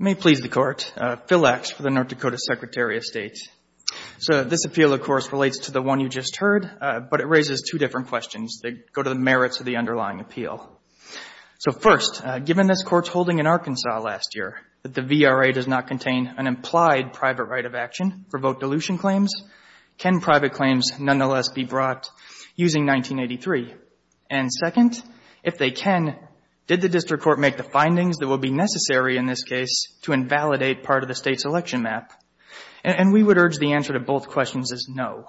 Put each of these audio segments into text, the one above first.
May it please the Court, Phil Lax for the North Dakota Secretary of State. So this appeal of course relates to the one you just heard, but it raises two different questions that go to the merits of the underlying appeal. So first, given this Court's holding in Arkansas last year that the VRA does not contain an implied private right of action for vote dilution claims, can private claims nonetheless be brought using 1983? And second, if they can, did the District Court make the findings that will be necessary in this case to invalidate part of the state's election map? And we would urge the answer to both questions is no.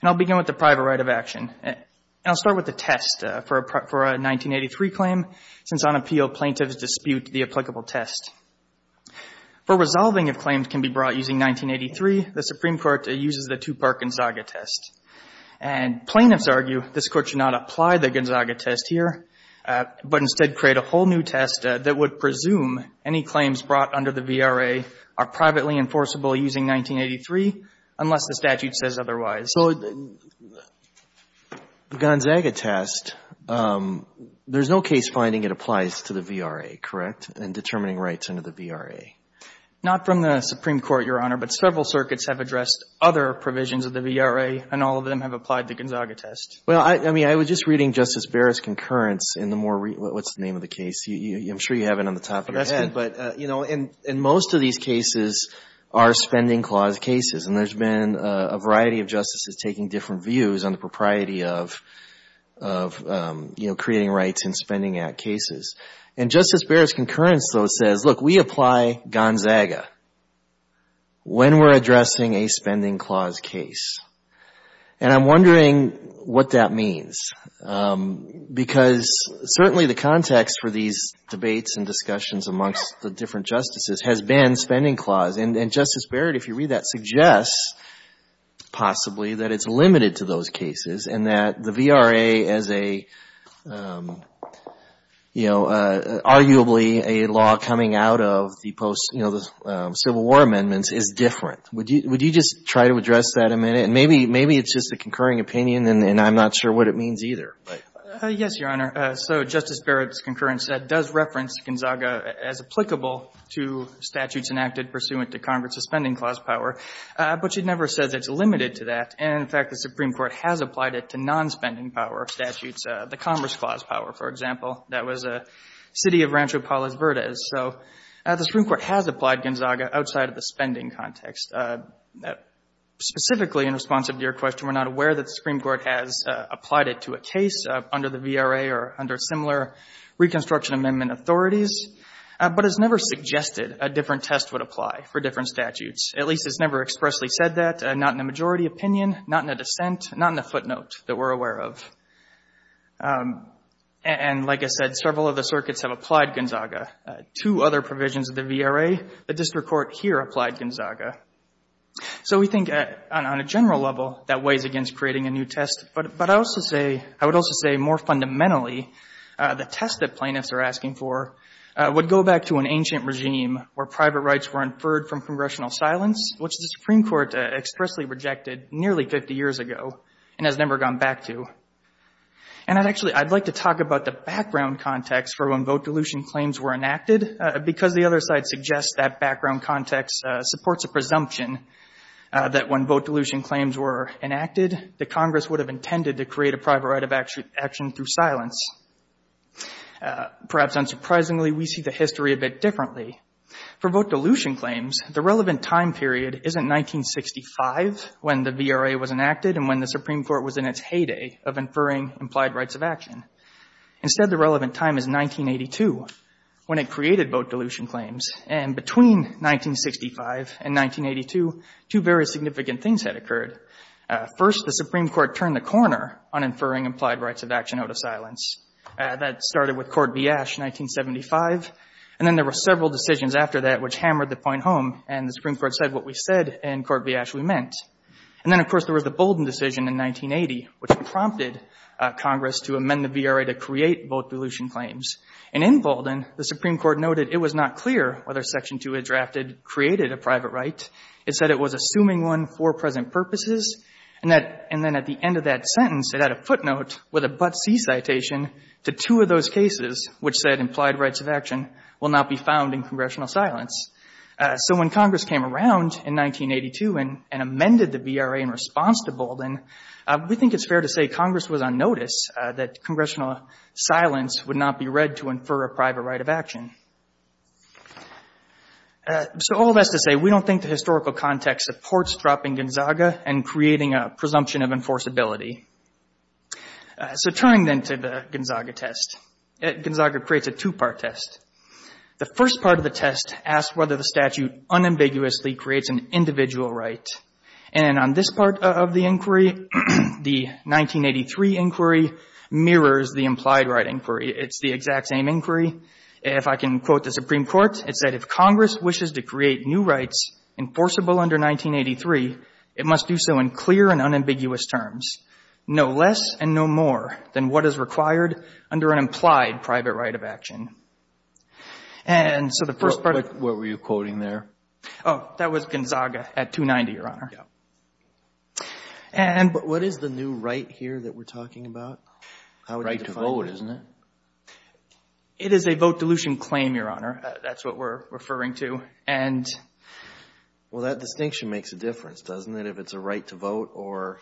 And I'll begin with the private right of action. And I'll start with the test for a 1983 claim since on appeal plaintiffs dispute the applicable test. For resolving if claims can be brought using 1983, the Supreme Court uses the Tupac-Gonzaga test. And plaintiffs argue this Court should not apply the Gonzaga test here, but instead create a whole new test that would presume any claims brought under the VRA are privately enforceable using 1983 unless the statute says otherwise. So the Gonzaga test, there's no case finding it applies to the VRA, correct, in determining rights under the VRA? Not from the Supreme Court, Your Honor, but several circuits have addressed other provisions of the VRA, and all of them have applied the Gonzaga test. Well, I mean, I was just reading Justice Barrett's concurrence in the more — what's the name of the case? I'm sure you have it on the top of your head. But, you know, in most of these cases are spending clause cases. And there's been a variety of justices taking different views on the propriety of, you know, creating rights in spending act cases. And Justice Barrett's concurrence, though, says, look, we apply Gonzaga when we're addressing a spending clause case. And I'm wondering what that means. Because certainly the context for these debates and discussions amongst the different justices has been spending clause. And Justice Barrett, if you read that, suggests possibly that it's limited to those cases, and that the VRA as a, you know, arguably a law coming out of the post, you know, the Civil War amendments is different. Would you just try to address that a minute? And maybe it's just a concurring opinion, and I'm not sure what it means either. Yes, Your Honor. So Justice Barrett's concurrence does reference Gonzaga as applicable to statutes enacted pursuant to Congress' spending clause power. But she never says it's limited to that. And, in fact, the Supreme Court has applied it to non-spending power statutes, the Commerce Clause power, for example. That was a city of Rancho Palos Verdes. So the Supreme Court has applied Gonzaga outside of the spending context. Specifically in response to your question, we're not aware that the Supreme Court has applied it to a case under the VRA or under similar Reconstruction Amendment authorities. But it's never suggested a different test would apply for different statutes. At least it's never expressly said that, not in a majority opinion, not in a dissent, not in a footnote that we're aware of. And, like I said, several of the circuits have applied Gonzaga. Two other provisions of the VRA, the district court here applied Gonzaga. So we think on a general level, that weighs against creating a new test. But I would also say more fundamentally, the test that plaintiffs are asking for would go back to an ancient regime where private rights were inferred from congressional silence, which the Supreme Court expressly rejected nearly 50 years ago and has never gone back to. And I'd actually, I'd like to talk about the background context for when vote dilution claims were enacted, because the other side suggests that background context supports a presumption that when vote dilution claims were enacted, that Congress would have intended to create a private right of action through silence. Perhaps unsurprisingly, we see the history a bit differently. For vote dilution claims, the relevant time period isn't 1965 when the VRA was enacted and when the Supreme Court was in its heyday of inferring implied rights of action. Instead, the relevant time is 1982 when it created vote dilution claims. And between 1965 and 1982, two very significant things had occurred. First, the Supreme Court turned the corner on inferring implied rights of action out of silence. That started with Court v. Ashe in 1975. And then there were several decisions after that which hammered the point home, and the Supreme Court said what we said in Court v. Ashe we meant. And then, of course, there was the Bolden decision in 1980, which prompted Congress to amend the VRA to create vote dilution claims. And in Bolden, the Supreme Court noted it was not clear whether Section 2, as drafted, created a private right. It said it was assuming one for present purposes. And that, and then at the end of that sentence, it had a footnote with a but-see citation to two of those cases which said implied rights of action will not be found in congressional silence. So when Congress came around in 1982 and amended the VRA in response to Bolden, we think it's fair to say Congress was on notice that congressional silence would not be read to infer a private right of action. So all that's to say we don't think the historical context supports dropping Gonzaga and creating a presumption of enforceability. So turning then to the Gonzaga test, Gonzaga creates a two-part test. The first part of the test asks whether the statute unambiguously creates an individual right. And on this part of the inquiry, the 1983 inquiry mirrors the implied right inquiry. It's the exact same inquiry. If I can quote the Supreme Court, it said if Congress wishes to create new rights enforceable under 1983, it must do so in clear and unambiguous terms, no less and no more than what is required under an implied private right of action. And so the first part of... But what were you quoting there? Oh, that was Gonzaga at 290, Your Honor. But what is the new right here that we're talking about? Right to vote, isn't it? It is a vote dilution claim, Your Honor. That's what we're referring to. And... Well, that distinction makes a difference, doesn't it, if it's a right to vote or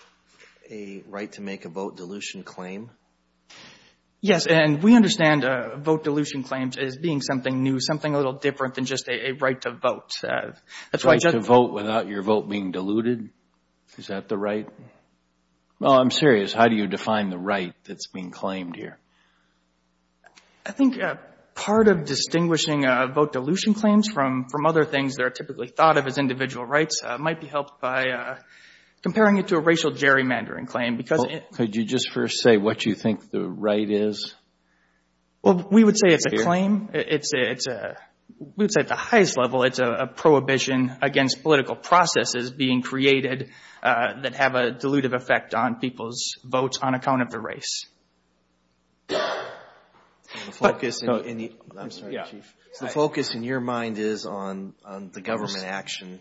a right to make a vote dilution claim? Yes, and we understand vote dilution claims as being something new, something a little different than just a right to vote. That's why... A right to vote without your vote being diluted? Is that the right? No, I'm serious. How do you define the right that's being claimed here? I think part of distinguishing vote dilution claims from other things that are typically thought of as individual rights might be helped by comparing it to a racial gerrymandering claim, because... Could you just first say what you think the right is? Well, we would say it's a claim. We would say at the highest level, it's a prohibition against political processes being created that have a dilutive effect on people's votes on account of the race. And the focus in the... I'm sorry, Chief. The focus in your mind is on the government action,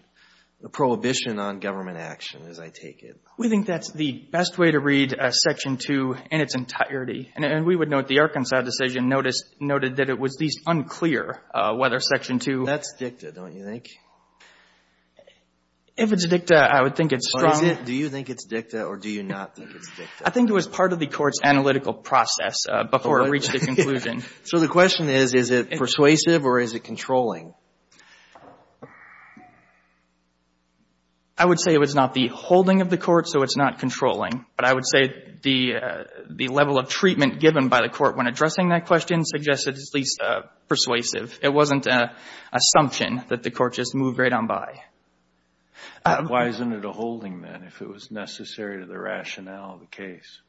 the prohibition on government action, as I take it. We think that's the best way to read Section 2 in its entirety. And we would note the Arkansas decision noted that it was at least unclear whether Section 2... If it's dicta, I would think it's strong. Do you think it's dicta or do you not think it's dicta? I think it was part of the Court's analytical process before it reached a conclusion. So the question is, is it persuasive or is it controlling? I would say it was not the holding of the Court, so it's not controlling. But I would say the level of treatment given by the Court when addressing that question suggests it was at least persuasive. It wasn't an assumption that the Court just moved right on by. Why isn't it a holding, then, if it was necessary to the rationale of the case?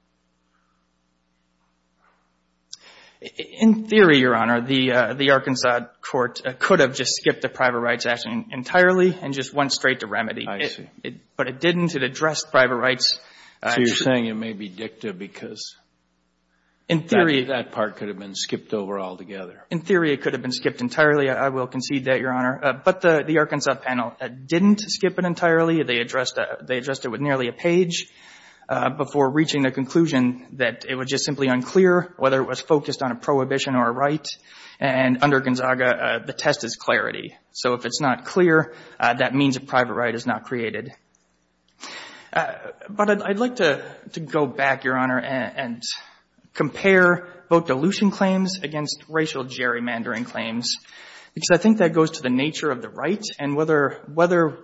In theory, Your Honor, the Arkansas Court could have just skipped the private rights action entirely and just went straight to remedy. I see. But it didn't. It addressed private rights. So you're saying it may be dicta because... In theory...... that part could have been skipped over altogether. In theory, it could have been skipped entirely. I will concede that, Your Honor. But the Arkansas panel didn't skip it entirely. They addressed it with nearly a page before reaching a conclusion that it was just simply unclear whether it was focused on a prohibition or a right. And under Gonzaga, the test is clarity. So if it's not clear, that means a private right is not created. But I'd like to go back, Your Honor, and compare vote dilution claims against racial gerrymandering claims, because I think that goes to the nature of the right and whether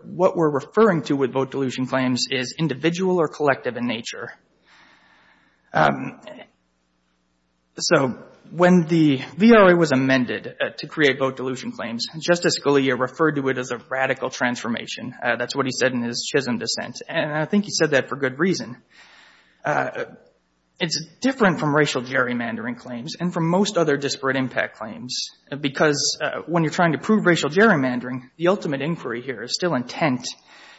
what we're referring to with vote dilution claims is individual or collective in nature. So when the VRA was amended to create vote dilution claims, Justice Scalia referred to it as a radical transformation. That's what he said in his Chisholm dissent. And I think he said that for good reason. It's different from racial gerrymandering claims and from most other disparate impact claims, because when you're trying to prove racial gerrymandering, the ultimate inquiry here is still intent.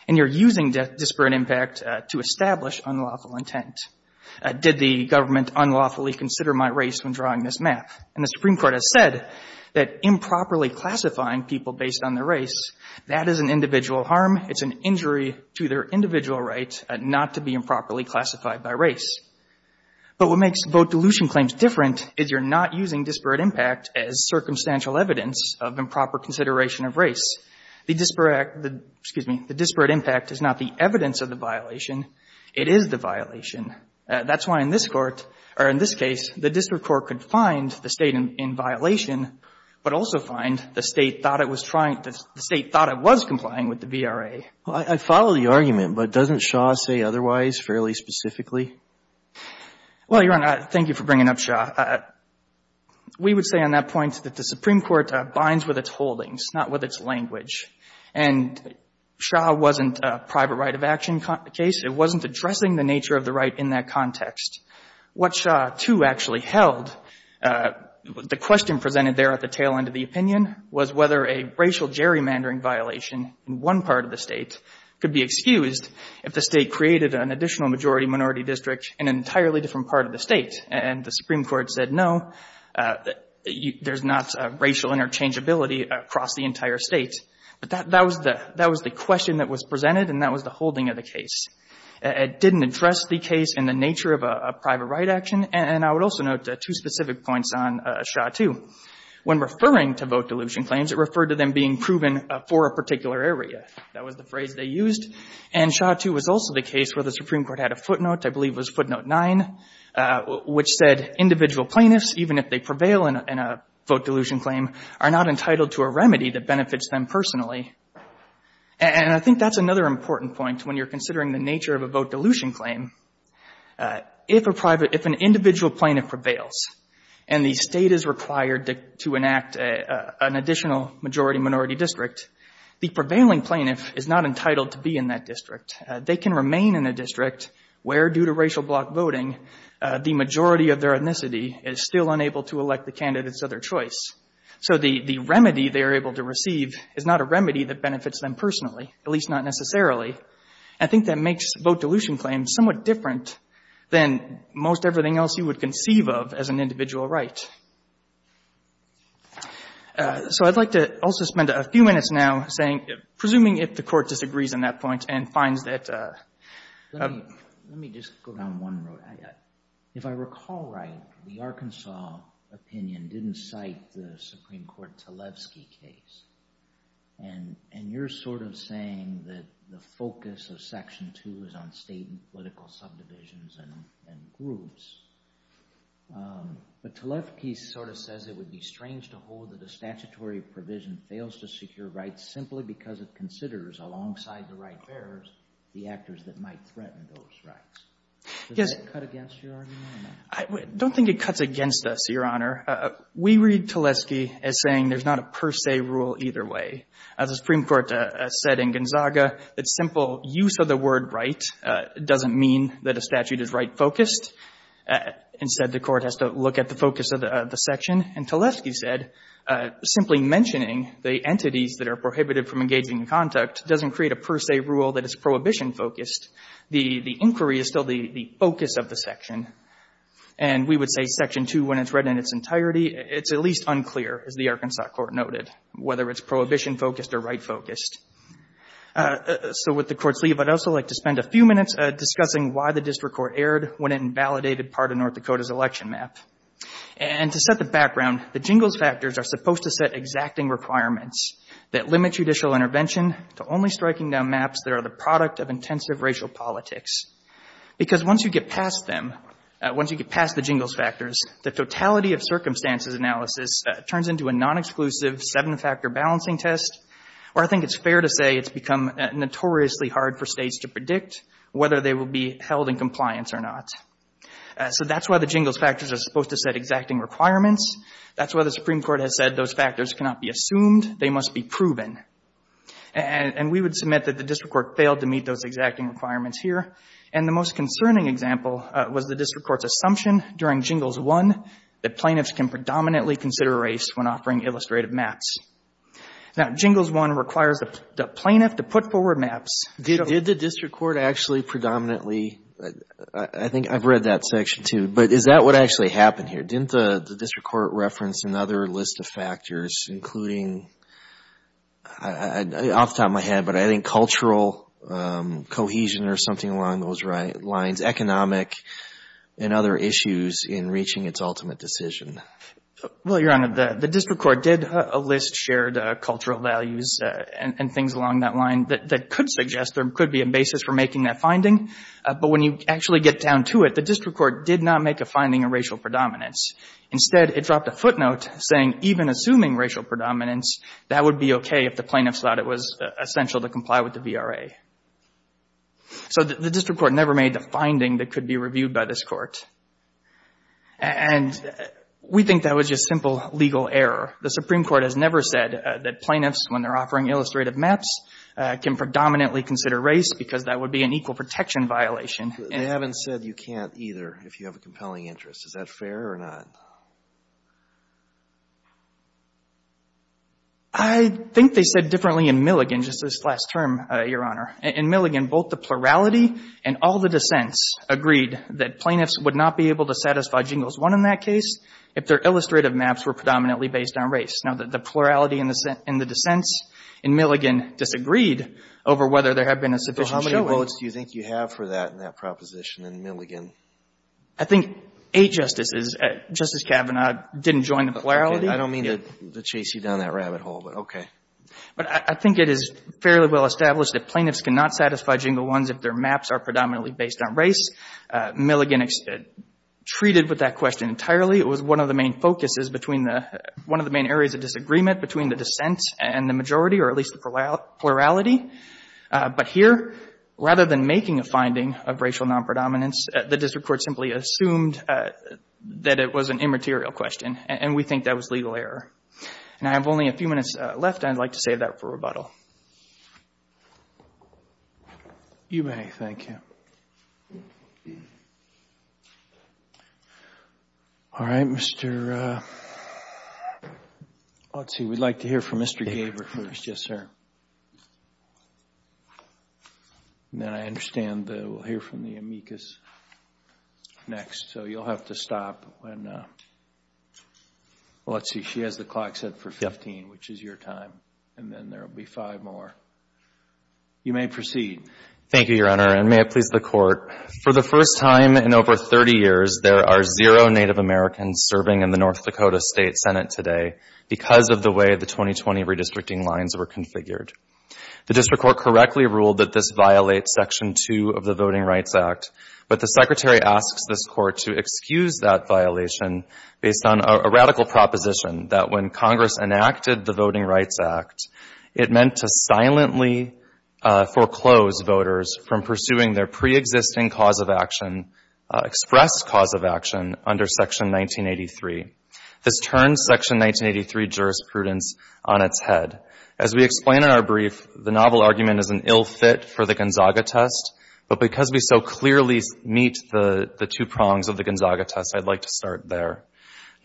And you're using disparate impact to establish unlawful intent. Did the government unlawfully consider my race when drawing this map? And the Supreme Court is improperly classifying people based on their race. That is an individual harm. It's an injury to their individual right not to be improperly classified by race. But what makes vote dilution claims different is you're not using disparate impact as circumstantial evidence of improper consideration of race. The disparate impact is not the evidence of the violation. It is the violation. That's why in this court, or in this case, the district court could find the State in violation, but also find the State thought it was trying to — the State thought it was complying with the VRA. Well, I follow the argument, but doesn't Shaw say otherwise fairly specifically? Well, Your Honor, thank you for bringing up Shaw. We would say on that point that the Supreme Court binds with its holdings, not with its language. And Shaw wasn't a private right of action case. It wasn't addressing the nature of the right in that context. What Shaw, too, actually held, the question presented there at the tail end of the opinion was whether a racial gerrymandering violation in one part of the State could be excused if the State created an additional majority-minority district in an entirely different part of the State. And the Supreme Court said, no, there's not racial interchangeability across the entire State. But that was the question that was presented, and that was the holding of the case. It didn't address the case in the nature of a private right action. And I would also note two specific points on Shaw, too. When referring to vote dilution claims, it referred to them being proven for a particular area. That was the phrase they used. And Shaw, too, was also the case where the Supreme Court had a footnote, I believe it was footnote 9, which said individual plaintiffs, even if they prevail in a vote dilution claim, are not entitled to a remedy that benefits them personally. And I think that's another important point when you're considering the nature of a vote dilution claim. If a private — if an individual plaintiff prevails and the State is required to enact an additional majority-minority district, the prevailing plaintiff is not entitled to be in that district. They can remain in a district where, due to racial block voting, the majority of their ethnicity is still unable to elect the candidates of their choice. So the remedy they are able to receive is not a remedy that benefits them personally, at least not necessarily. I think that makes vote dilution claims somewhat different than most everything else you would conceive of as an individual right. So I'd like to also spend a few minutes now saying, presuming if the Court disagrees on that point and finds that — Let me just go down one road. If I recall right, the Arkansas opinion didn't cite the Supreme Court Talevsky case. And you're sort of saying that the focus of Section 2 is on state and political subdivisions and groups. But Talevsky sort of says it would be strange to hold that a statutory provision fails to secure rights simply because it considers, alongside the right bearers, the actors that might threaten those rights. Does that cut against your argument? I don't think it cuts against us, Your Honor. We read Talevsky as saying there's not a per se rule either way. As the Supreme Court said in Gonzaga, that simple use of the word right doesn't mean that a statute is right-focused. Instead, the Court has to look at the focus of the section. And Talevsky said, simply mentioning the entities that are prohibited from engaging in conduct doesn't create a per se rule that is prohibition-focused. The inquiry is still the focus of the section. And we would say Section 2, when it's read in its entirety, it's at least unclear, as the Arkansas Court noted, whether it's prohibition-focused or right-focused. So with the Court's leave, I'd also like to spend a few minutes discussing why the district court erred when it invalidated part of North Dakota's election map. And to set the background, the Jingles Factors are supposed to set exacting requirements that limit judicial intervention to only striking down maps that are the product of intensive racial politics. Because once you get past them, once you get past the Jingles Factors, the totality of circumstances analysis turns into a non-exclusive, seven-factor balancing test where I think it's fair to say it's become notoriously hard for states to predict whether they will be held in compliance or not. So that's why the Jingles Factors are supposed to set exacting requirements. That's why the Supreme Court has said those factors cannot be assumed, they must be proven. And we would submit that the district court failed to meet those exacting requirements here. And the most concerning example was the district court's assumption during Jingles 1 that plaintiffs can predominantly consider race when offering illustrative maps. Now, Jingles 1 requires the plaintiff to put forward maps. Did the district court actually predominantly — I think I've read that Section 2, but is that what actually happened here? Didn't the district court reference another list of factors including — off the top of my head, but I think cultural cohesion or something along those lines, economic and other issues in reaching its ultimate decision? Well, Your Honor, the district court did list shared cultural values and things along that line that could suggest there could be a basis for making that finding. But when you actually get down to it, the district court did not make a finding of racial predominance. Instead, it dropped a footnote saying even assuming racial predominance, that would be okay if the plaintiffs thought it was essential to comply with the VRA. So the district court never made the finding that could be reviewed by this Court. And we think that was just simple legal error. The Supreme Court has never said that plaintiffs, when they're offering illustrative maps, can predominantly consider race because that would be an equal protection violation. They haven't said you can't either if you have a compelling interest. Is that fair or not? I think they said differently in Milligan, just this last term, Your Honor. In Milligan, both the plurality and all the dissents agreed that plaintiffs would not be able to satisfy Jingles 1 in that case if their illustrative maps were predominantly based on race. Now, the plurality and the dissents in Milligan disagreed over whether there had been a sufficient show of — What results do you think you have for that in that proposition in Milligan? I think eight Justices. Justice Kavanaugh didn't join the plurality. I don't mean to chase you down that rabbit hole, but okay. But I think it is fairly well established that plaintiffs cannot satisfy Jingle 1s if their maps are predominantly based on race. Milligan treated with that question entirely. It was one of the main focuses between the — one of the main areas of disagreement between the dissents and the majority, or at least the plurality. But here, rather than making a finding of racial non-predominance, the district court simply assumed that it was an immaterial question, and we think that was legal error. And I have only a few minutes left. I'd like to save that for rebuttal. You may. Thank you. All right. Mr. — let's see. We'd like to hear from Mr. Gabert first. Yes, sir. And then I understand that we'll hear from the amicus next. So you'll have to stop when — well, let's see. She has the clock set for 15, which is your time. And then there will be five more. You may proceed. Thank you, Your Honor, and may it please the Court, for the first time in over 30 years, there are zero Native Americans serving in the North Dakota State Senate today because of the way the 2020 redistricting lines were configured. The district court correctly ruled that this violates Section 2 of the Voting Rights Act, but the Secretary asks this Court to excuse that violation based on a radical proposition that when Congress enacted the Voting Rights Act, it meant to silently foreclose voters from pursuing their preexisting cause of action, expressed cause of action, under Section 1983. This turns Section 1983 jurisprudence on its head. As we explain in our brief, the novel argument is an ill fit for the Gonzaga test, but because we so clearly meet the two prongs of the Gonzaga test, I'd like to start there.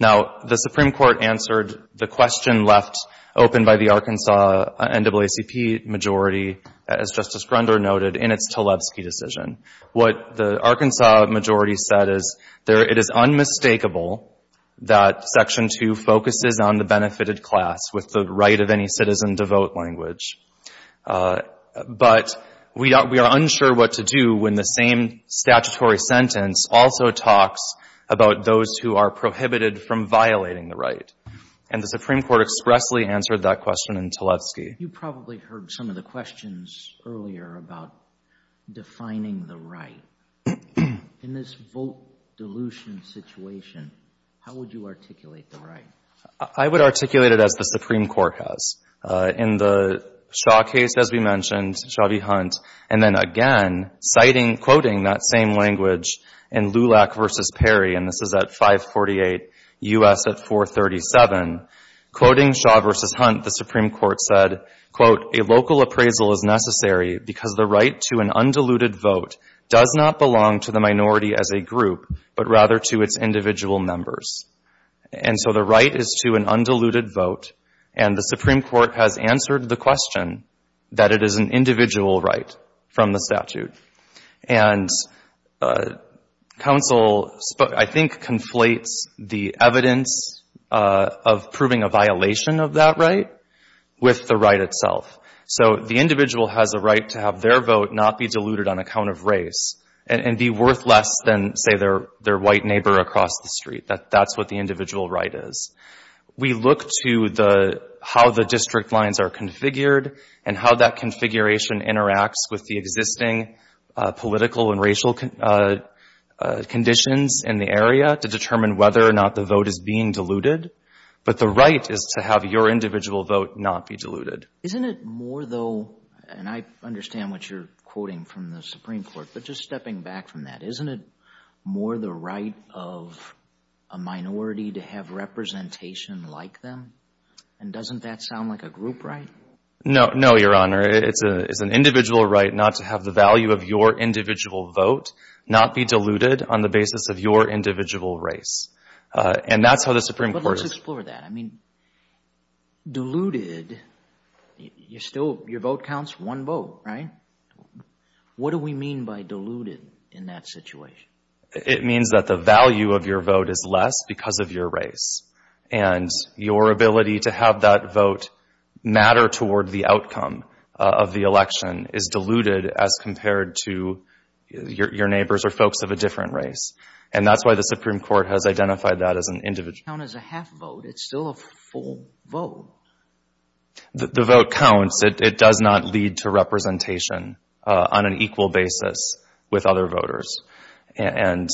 Now, the Supreme Court answered the question left open by the Arkansas NAACP majority, as Justice Grunder noted, in its Tlaibsky decision. What the Arkansas majority said is, it is unmistakable that Section 2 focuses on the benefited class with the right of any citizen to vote language, but we are unsure what to do when the same statutory sentence also talks about those who are prohibited from violating the right, and the Supreme Court expressly answered that question in Tlaibsky. You probably heard some of the questions earlier about defining the right. In this vote dilution situation, how would you articulate the right? I would articulate it as the Supreme Court has. In the Shaw case, as we mentioned, Chauvy-Hunt, and then again, citing, quoting that same language in Lulac v. Perry, and this is at 548 U.S. at 437, quoting Shaw v. Hunt, the Supreme Court said, quote, a local appraisal is necessary because the right to an undiluted vote does not belong to the minority as a group, but rather to its individual members. And so the right is to an undiluted vote, and the Supreme Court has answered the question that it is an individual right from the statute. And counsel, I think, conflates the evidence of proving a violation of that right with the right itself. So the individual has a right to have their vote not be diluted on account of race and be worth less than, say, their white neighbor across the street. That's what the individual right is. We look to how the district lines are configured and how that configuration interacts with the existing political and racial conditions in the area to determine whether or not the vote is being diluted. But the right is to have your individual vote not be diluted. Isn't it more, though, and I understand what you're quoting from the Supreme Court, but just stepping back from that, isn't it more the right of a minority to have representation like them? And doesn't that sound like a group right? No, no, Your Honor. It's an individual right not to have the value of your individual vote not be diluted on the basis of your individual race. And that's how the Supreme Court is. But let's explore that. I mean, diluted, you're still, your vote counts one vote, right? What do we mean by diluted in that situation? It means that the value of your vote is less because of your race. And your ability to have that vote matter toward the outcome of the election is diluted as compared to your neighbors or folks of a different race. And that's why the Supreme Court has identified that as an individual. It doesn't count as a half vote. It's still a full vote. The vote counts. It does not lead to representation on an equal basis with other voters. And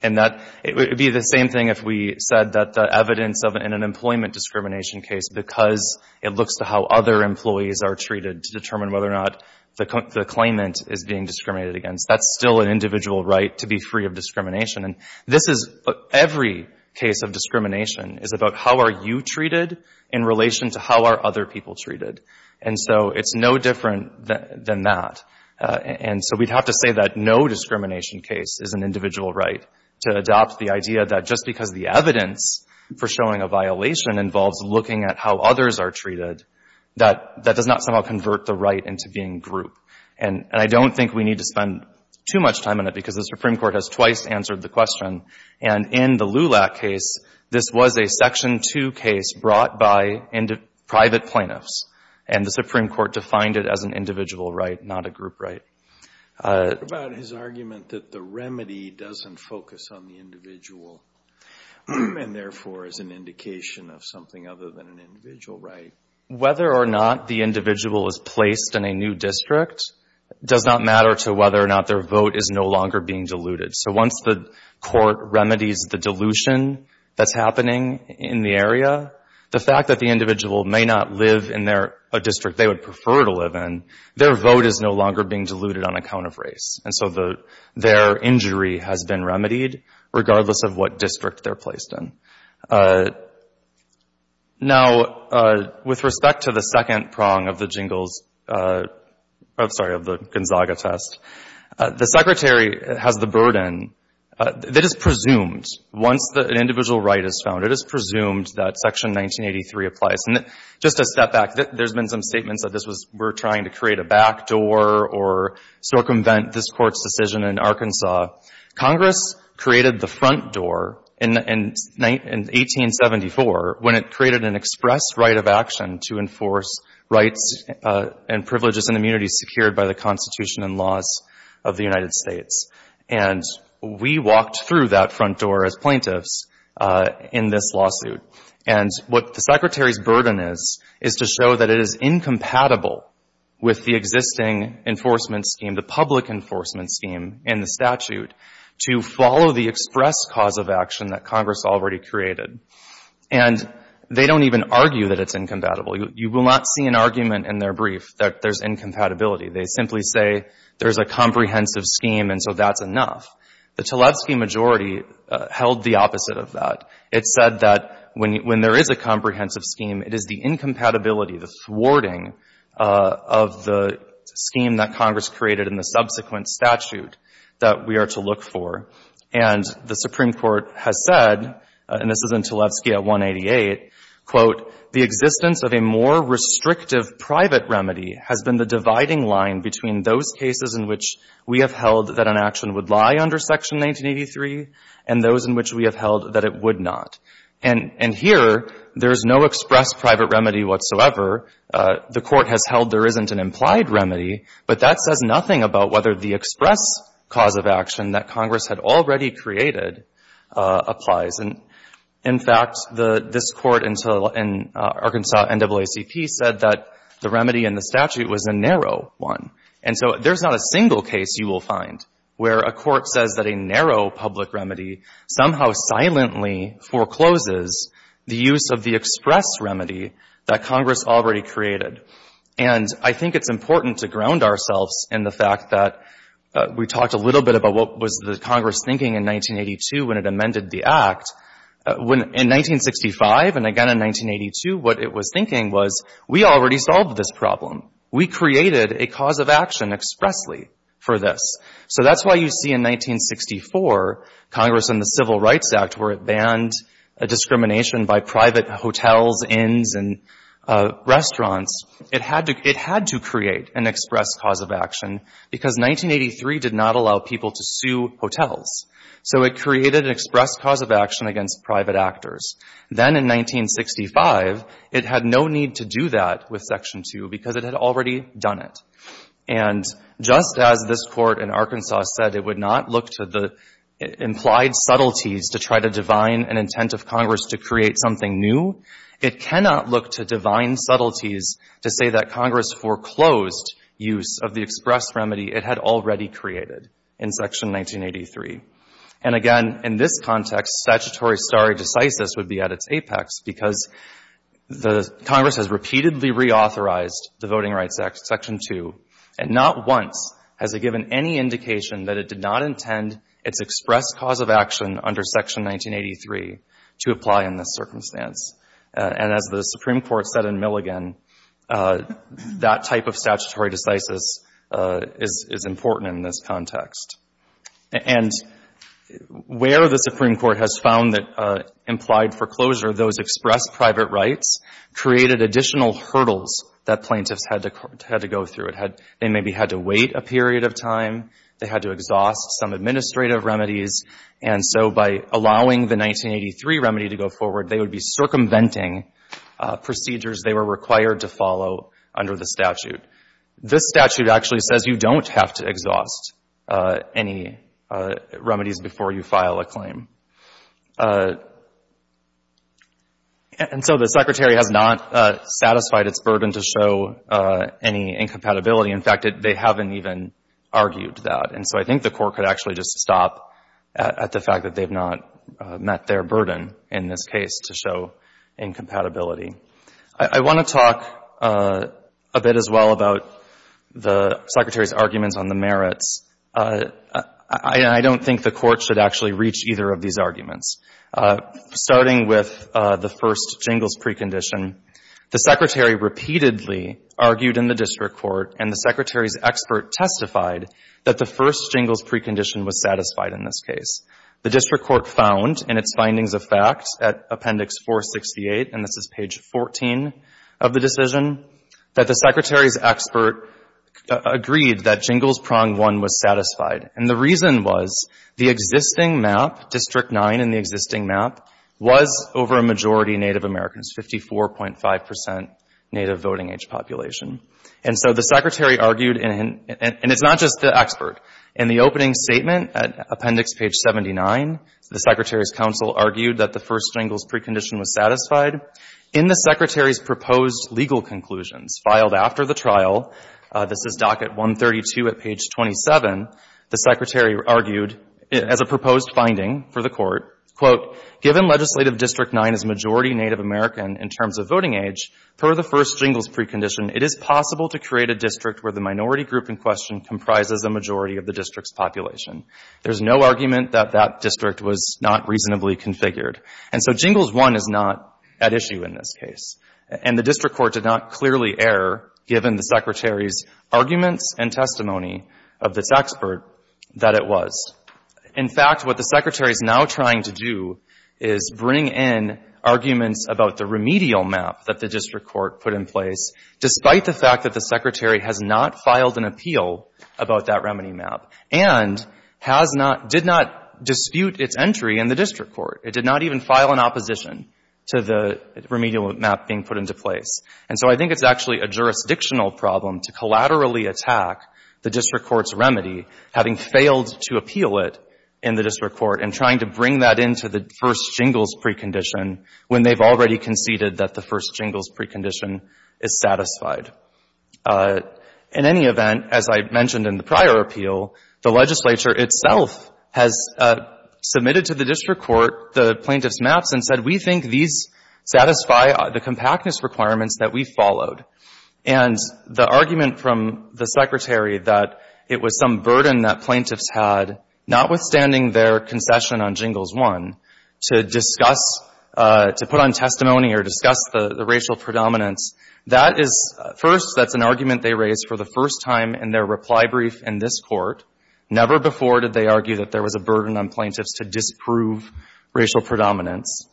that, it would be the same thing if we said that the evidence of an employment discrimination case because it looks to how other employees are treated to determine whether or not the claimant is being discriminated against. That's still an individual right to be free of discrimination. And this is, every case of discrimination is about how are you treated in relation to how are other people treated. And so it's no different than that. And so we'd have to say that no discrimination case is an individual right to adopt the idea that just because the evidence for showing a violation involves looking at how others are treated, that that does not somehow convert the right into being grouped. And I don't think we need to spend too much time on it because the Supreme Court has twice answered the question. And in the LULAC case, this was a Section 2 case brought by private plaintiffs. And the Supreme Court defined it as an individual right, not a group right. What about his argument that the remedy doesn't focus on the individual and therefore is an indication of something other than an individual right? Whether or not the individual is placed in a new district does not matter to whether or not their vote is no longer being diluted. So once the court remedies the dilution that's happening in the area, the fact that the individual may not live in a district they would prefer to live in, their vote is no longer being diluted on account of race. And so their injury has been remedied regardless of what district they're placed in. Now, with respect to the second prong of the Gingell's, I'm sorry, of the Gonzaga test, the Secretary has the burden that it's presumed, once an individual right is found, it is presumed that Section 1983 applies. And just to step back, there's been some statements that this was we're trying to create a backdoor or circumvent this Court's decision in Arkansas. Congress created the front door in 1874 when it created an express right of action to enforce rights and privileges and immunities secured by the Constitution and laws of the United States. And we walked through that front door as plaintiffs in this lawsuit. And what the Secretary's burden is, is to show that it is incompatible with the existing enforcement scheme, the public enforcement scheme in the statute, to follow the express cause of action that Congress already created. And they don't even argue that it's incompatible. You will not see an argument in their brief that there's incompatibility. They simply say there's a comprehensive scheme and so that's enough. The Tlaibski majority held the opposite of that. It said that when there is a comprehensive scheme, it is the incompatibility, the thwarting of the scheme that Congress created in the subsequent statute that we are to look for. And the Supreme Court has said, and this is in Tlaibski at 188, quote, The existence of a more restrictive private remedy has been the dividing line between those cases in which we have held that an action would lie under Section 1983 and those in which we have held that it would not. And here, there is no express private remedy whatsoever. The Court has held there isn't an implied remedy, but that says nothing about whether the express cause of action that Congress had already created applies. In fact, this Court in Arkansas NAACP said that the remedy in the statute was a narrow one. And so there's not a single case you will find where a court says that a narrow public remedy somehow silently forecloses the use of the express remedy that Congress already created. And I think it's important to ground ourselves in the fact that we talked a little bit about what was the Congress thinking in 1982 when it amended the Act. In 1965, and again in 1982, what it was thinking was, we already solved this problem. We created a cause of action expressly for this. So that's why you see in 1964, Congress in the Civil Rights Act, where it banned discrimination by private hotels, inns, and restaurants, it had to create an express cause of action because 1983 did not allow people to sue hotels. So it created an express cause of action against private actors. Then in 1965, it had no need to do that with Section 2 because it had already done it. And just as this Court in Arkansas said it would not look to the implied subtleties to try to divine an intent of Congress to create something new, it cannot look to divine subtleties to say that Congress foreclosed use of the express remedy it had already created in Section 1983. And again, in this context, statutory stare decisis would be at its apex because the Congress has repeatedly reauthorized the Voting Rights Act, Section 2, and not once has it given any indication that it did not intend its express cause of action under Section 1983 to apply in this circumstance. And as the Supreme Court said in Milligan, that type of statutory decisis is important in this context. And where the Supreme Court has found that implied foreclosure, those express private rights, created additional hurdles that plaintiffs had to go through. They maybe had to wait a period of time. They had to exhaust some administrative remedies. And so by allowing the 1983 remedy to go forward, they would be circumventing procedures they were required to follow under the statute. This statute actually says you don't have to exhaust any remedies before you file a And so the Secretary has not satisfied its burden to show any incompatibility. In fact, they haven't even argued that. So I think the Court could actually just stop at the fact that they've not met their burden in this case to show incompatibility. I want to talk a bit as well about the Secretary's arguments on the merits. I don't think the Court should actually reach either of these arguments. Starting with the first jingles precondition, the Secretary repeatedly argued in the The District Court found in its findings of fact at Appendix 468, and this is page 14 of the decision, that the Secretary's expert agreed that Jingles Prong 1 was satisfied. And the reason was the existing map, District 9 in the existing map, was over a majority Native Americans, 54.5 percent Native voting age population. And so the Secretary argued, and it's not just the expert, in the opening statement at Appendix page 79, the Secretary's counsel argued that the first jingles precondition was satisfied. In the Secretary's proposed legal conclusions filed after the trial, this is docket 132 at page 27, the Secretary argued as a proposed finding for the Court, quote, Given Legislative District 9 as a majority Native American in terms of voting age, per the first jingles precondition, it is possible to create a district where the minority group in question comprises a majority of the district's population. There's no argument that that district was not reasonably configured. And so Jingles 1 is not at issue in this case. And the District Court did not clearly err, given the Secretary's arguments and testimony of this expert, that it was. In fact, what the Secretary is now trying to do is bring in arguments about the remedial map that the District Court put in place, despite the fact that the Secretary has not filed an appeal about that remedy map and has not, did not dispute its entry in the District Court. It did not even file an opposition to the remedial map being put into place. And so I think it's actually a jurisdictional problem to collaterally attack the District Court's remedy, having failed to appeal it in the District Court, and trying to bring that into the first jingles precondition when they've already conceded that the first jingles precondition is satisfied. In any event, as I mentioned in the prior appeal, the legislature itself has submitted to the District Court the plaintiff's maps and said, we think these satisfy the compactness requirements that we followed. And the argument from the Secretary that it was some burden that plaintiffs had, notwithstanding their concession on Jingles 1, to discuss, to put on testimony or discuss the racial predominance, that is, first, that's an argument they raised for the first time in their reply brief in this Court. Never before did they argue that there was a burden on plaintiffs to disprove racial predominance.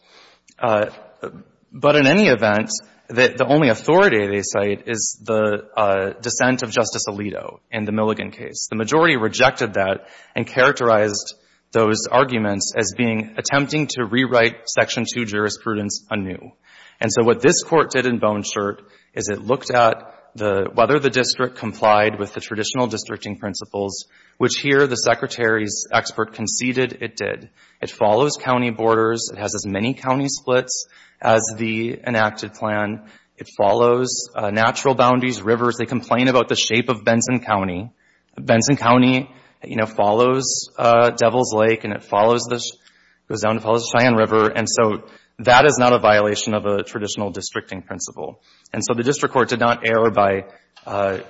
But in any event, the only authority they cite is the dissent of Justice Alito in the Milligan case. The majority rejected that and characterized those arguments as being attempting to rewrite Section 2 jurisprudence anew. And so what this Court did in Bone Shirt is it looked at whether the District complied with the traditional districting principles, which here the Secretary's expert conceded it did. It follows county borders. It has as many county splits as the enacted plan. It follows natural boundaries, rivers. They complain about the shape of Benson County. Benson County, you know, follows Devils Lake and it follows the — goes down and follows the Cheyenne River. And so that is not a violation of a traditional districting principle. And so the District Court did not err by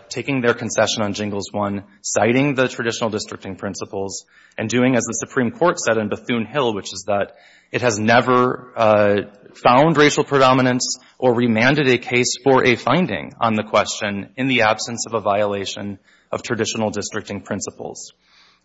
taking their concession on Jingles 1, citing the traditional districting principles, and doing as the Supreme Court said in Bethune Hill, which is that it has never found racial predominance or remanded a case for a finding on the question in the absence of a violation of traditional districting principles.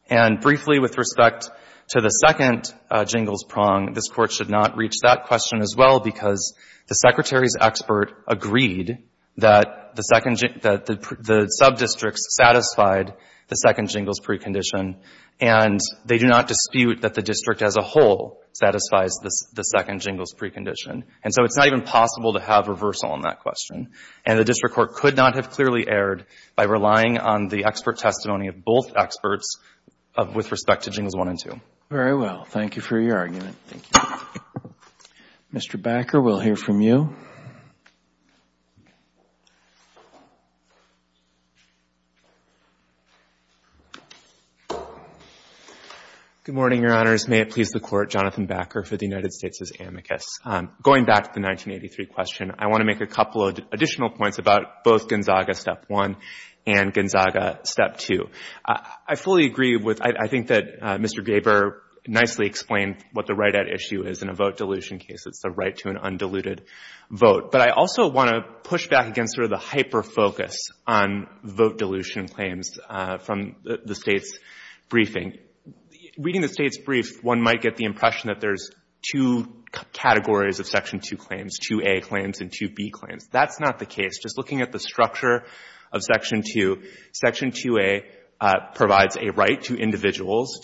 And briefly, with respect to the second Jingles prong, this Court should not reach that question as well because the Secretary's expert agreed that the second — that the subdistricts satisfied the second Jingles precondition, and they do not dispute that the District as a whole satisfies the second Jingles precondition. And so it's not even possible to have reversal on that question. And the District Court could not have clearly erred by relying on the expert testimony of both experts of — with respect to Jingles 1 and 2. CHIEF JUSTICE ROBERTS, JR.: Very well. Thank you for your argument. Mr. Bakker, we'll hear from you. BAKKER, JR.: Good morning, Your Honors. May it please the Court, Jonathan Bakker for the United States' amicus. Going back to the 1983 question, I want to make a couple of additional points about both Gonzaga Step 1 and Gonzaga Step 2. I fully agree with — I think that Mr. Gaber nicely explained what the right-at issue is in a vote dilution case. It's the right to an undiluted vote. But I also want to push back against sort of the hyper-focus on vote dilution claims from the State's briefing. Reading the State's brief, one might get the impression that there's two categories of Section 2 claims, 2A claims and 2B claims. That's not the case. Just looking at the structure of Section 2, Section 2A provides a right to individuals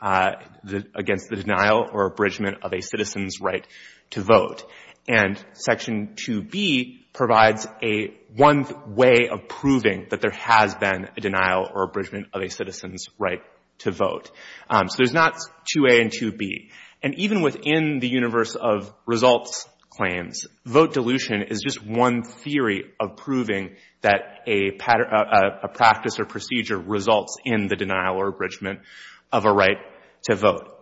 against the denial or abridgment of a citizen's right to vote. And Section 2B provides a — one way of proving that there has been a denial or abridgment of a citizen's right to vote. So there's not 2A and 2B. And even within the universe of results claims, vote dilution is just one theory of proving that a practice or procedure results in the denial or abridgment of a right to vote.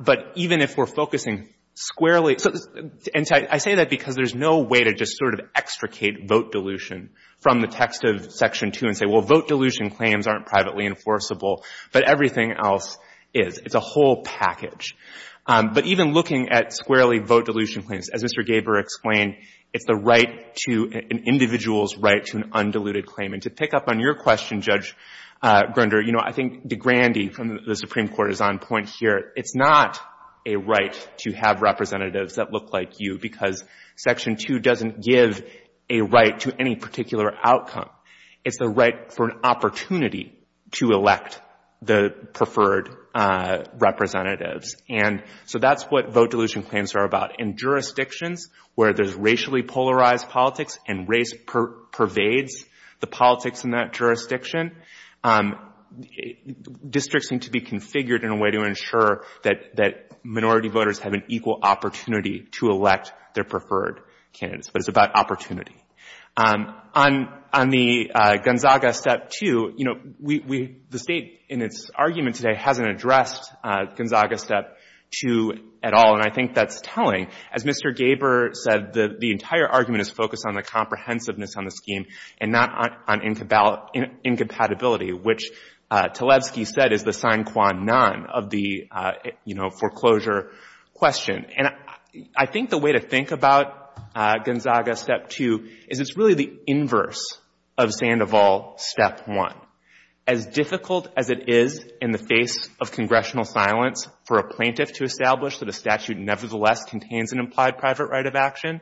But even if we're focusing squarely — and I say that because there's no way to just sort of extricate vote dilution from the text of Section 2 and say, well, vote dilution claims aren't privately enforceable, but everything else is. It's a whole package. But even looking at squarely vote dilution claims, as Mr. Gaber explained, it's the right to — an individual's right to an undiluted claim. And to pick up on your question, Judge Grunder, you know, I think DeGrande from the Supreme Court is on point here. It's not a right to have representatives that look like you because Section 2 doesn't give a right to any particular outcome. It's the right for an opportunity to elect the preferred representatives. And so that's what vote dilution claims are about. In jurisdictions where there's racially polarized politics and race pervades the politics in that jurisdiction, districts need to be configured in a way to ensure that minority voters have an equal opportunity to elect their preferred candidates. But it's about opportunity. On the Gonzaga Step 2, you know, we — the State in its argument today hasn't addressed Gonzaga Step 2 at all. And I think that's telling. As Mr. Gaber said, the entire argument is focused on the comprehensiveness on the scheme and not on incompatibility, which Talevsky said is the sine qua non of the, you know, foreclosure question. And I think the way to think about Gonzaga Step 2 is it's really the inverse of Sandoval Step 1. As difficult as it is in the face of congressional silence for a plaintiff to establish that a statute nevertheless contains an implied private right of action,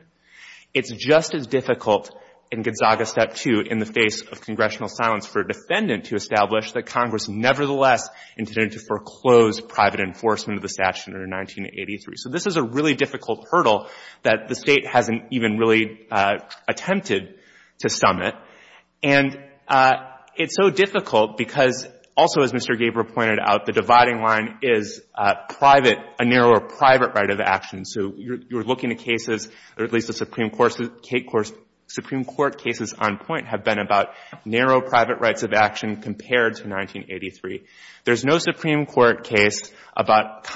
it's just as difficult in Gonzaga Step 2 in the face of congressional silence for a defendant to establish that Congress nevertheless intended to foreclose private enforcement of the statute under 1983. So this is a really difficult hurdle that the State hasn't even really attempted to summit. And it's so difficult because also, as Mr. Gaber pointed out, the dividing line is private — a narrower private right of action. So you're looking at cases — or at least the Supreme Court cases on point have been about narrow private rights of action compared to 1983. There's no Supreme Court case about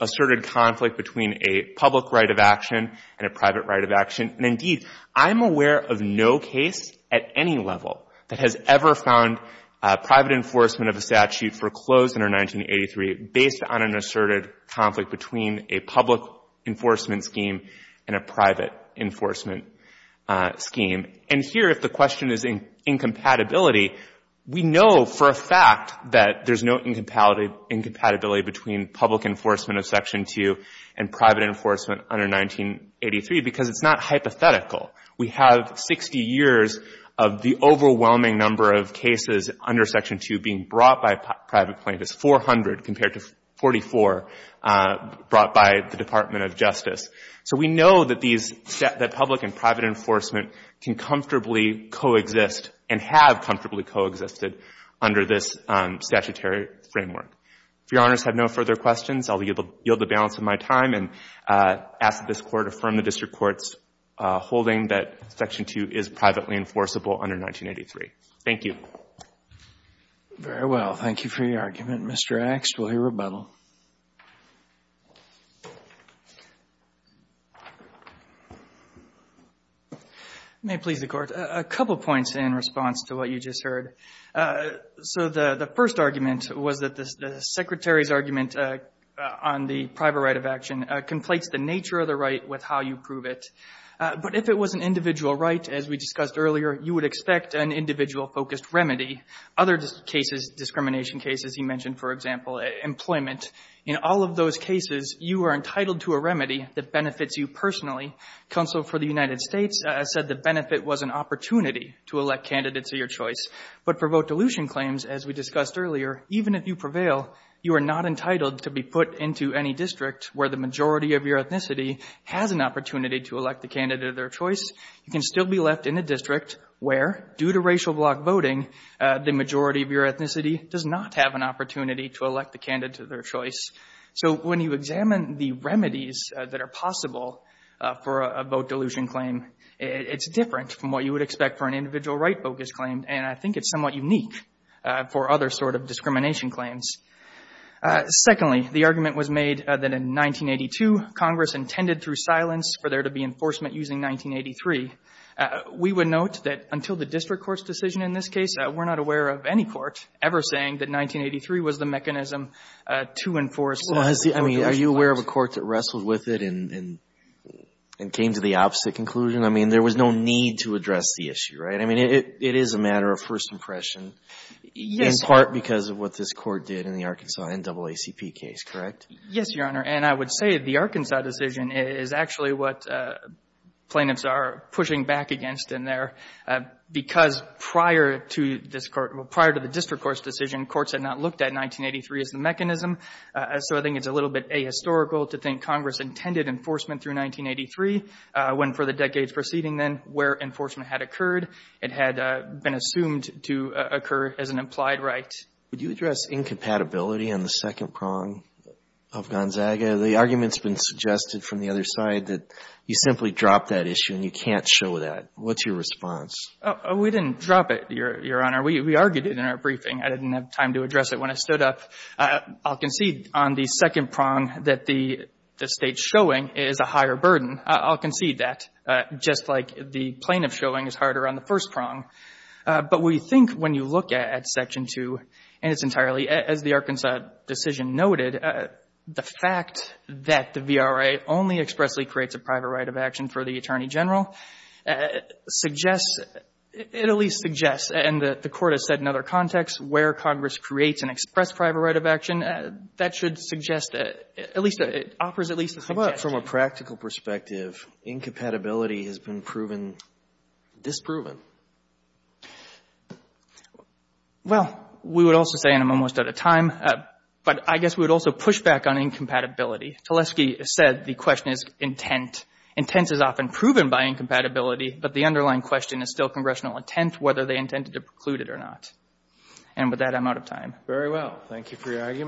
asserted conflict between a public right of action and a private right of action. And indeed, I'm aware of no case at any level that has ever found private enforcement of a statute foreclosed under 1983 based on an asserted conflict between a public enforcement scheme and a private enforcement scheme. And here, if the question is incompatibility, we know for a fact that there's no incompatibility between public enforcement of Section 2 and private enforcement under 1983 because it's not hypothetical. We have 60 years of the overwhelming number of cases under Section 2 being brought by private plaintiffs, 400 compared to 44 brought by the Department of Justice. So we know that these — that public and private enforcement can comfortably coexist and have comfortably coexisted under this statutory framework. If Your Honors have no further questions, I'll yield the balance of my time and ask this Court to affirm the district court's holding that Section 2 is privately enforceable under 1983. Thank you. Very well. Thank you for your argument. Mr. Axe, we'll hear rebuttal. May it please the Court. A couple points in response to what you just heard. So the first argument was that the Secretary's argument on the private right of action conflates the nature of the right with how you prove it. But if it was an individual right, as we discussed earlier, you would expect an individual focused remedy. Other cases, discrimination cases, you mentioned, for example, employment. In all of those cases, you are entitled to a remedy that benefits you personally. Counsel for the United States said the benefit was an opportunity to elect candidates of your choice. But for vote dilution claims, as we discussed earlier, even if you prevail, you are not entitled to be put into any district where the majority of your ethnicity has an opportunity to elect the candidate of their choice. You can still be left in a district where, due to racial block voting, the majority of your ethnicity does not have an opportunity to elect the candidate of their choice. So when you examine the remedies that are possible for a vote dilution claim, it's different from what you would expect for an individual right-focused claim. And I think it's somewhat unique for other sort of discrimination claims. Secondly, the argument was made that in 1982, Congress intended through silence for there to be enforcement using 1983. We would note that until the district court's decision in this case, we're not aware of any court ever saying that 1983 was the mechanism to enforce vote dilution claims. I mean, are you aware of a court that wrestled with it and came to the opposite conclusion? I mean, there was no need to address the issue, right? I mean, it is a matter of first impression, in part because of what this court did in the Arkansas NAACP case, correct? Yes, Your Honor. And I would say the Arkansas decision is actually what plaintiffs are pushing back against in there because prior to this court, prior to the district court's decision, courts had not looked at 1983 as the mechanism. So I think it's a little bit ahistorical to think Congress intended enforcement through 1983 when for the decades preceding then where enforcement had occurred, it had been assumed to occur as an implied right. Would you address incompatibility on the second prong of Gonzaga? The argument's been suggested from the other side that you simply drop that issue and you can't show that. What's your response? We didn't drop it, Your Honor. We argued it in our briefing. I didn't have time to address it when I stood up. I'll concede on the second prong that the State's showing is a higher burden. I'll concede that, just like the plaintiff showing is harder on the first prong. But we think when you look at Section 2, and it's entirely, as the Arkansas decision noted, the fact that the VRA only expressly creates a private right of action for the attorney general suggests, it at least suggests, and the Court has said in other contexts, where Congress creates an express private right of action, that should suggest at least, offers at least a suggestion. How about from a practical perspective, incompatibility has been proven disproven? Well, we would also say, and I'm almost out of time, but I guess we would also push back on incompatibility. Teleski said the question is intent. Intent is often proven by incompatibility, but the underlying question is still congressional intent, whether they intended to preclude it or not. And with that, I'm out of time. Very well. Thank you for your argument.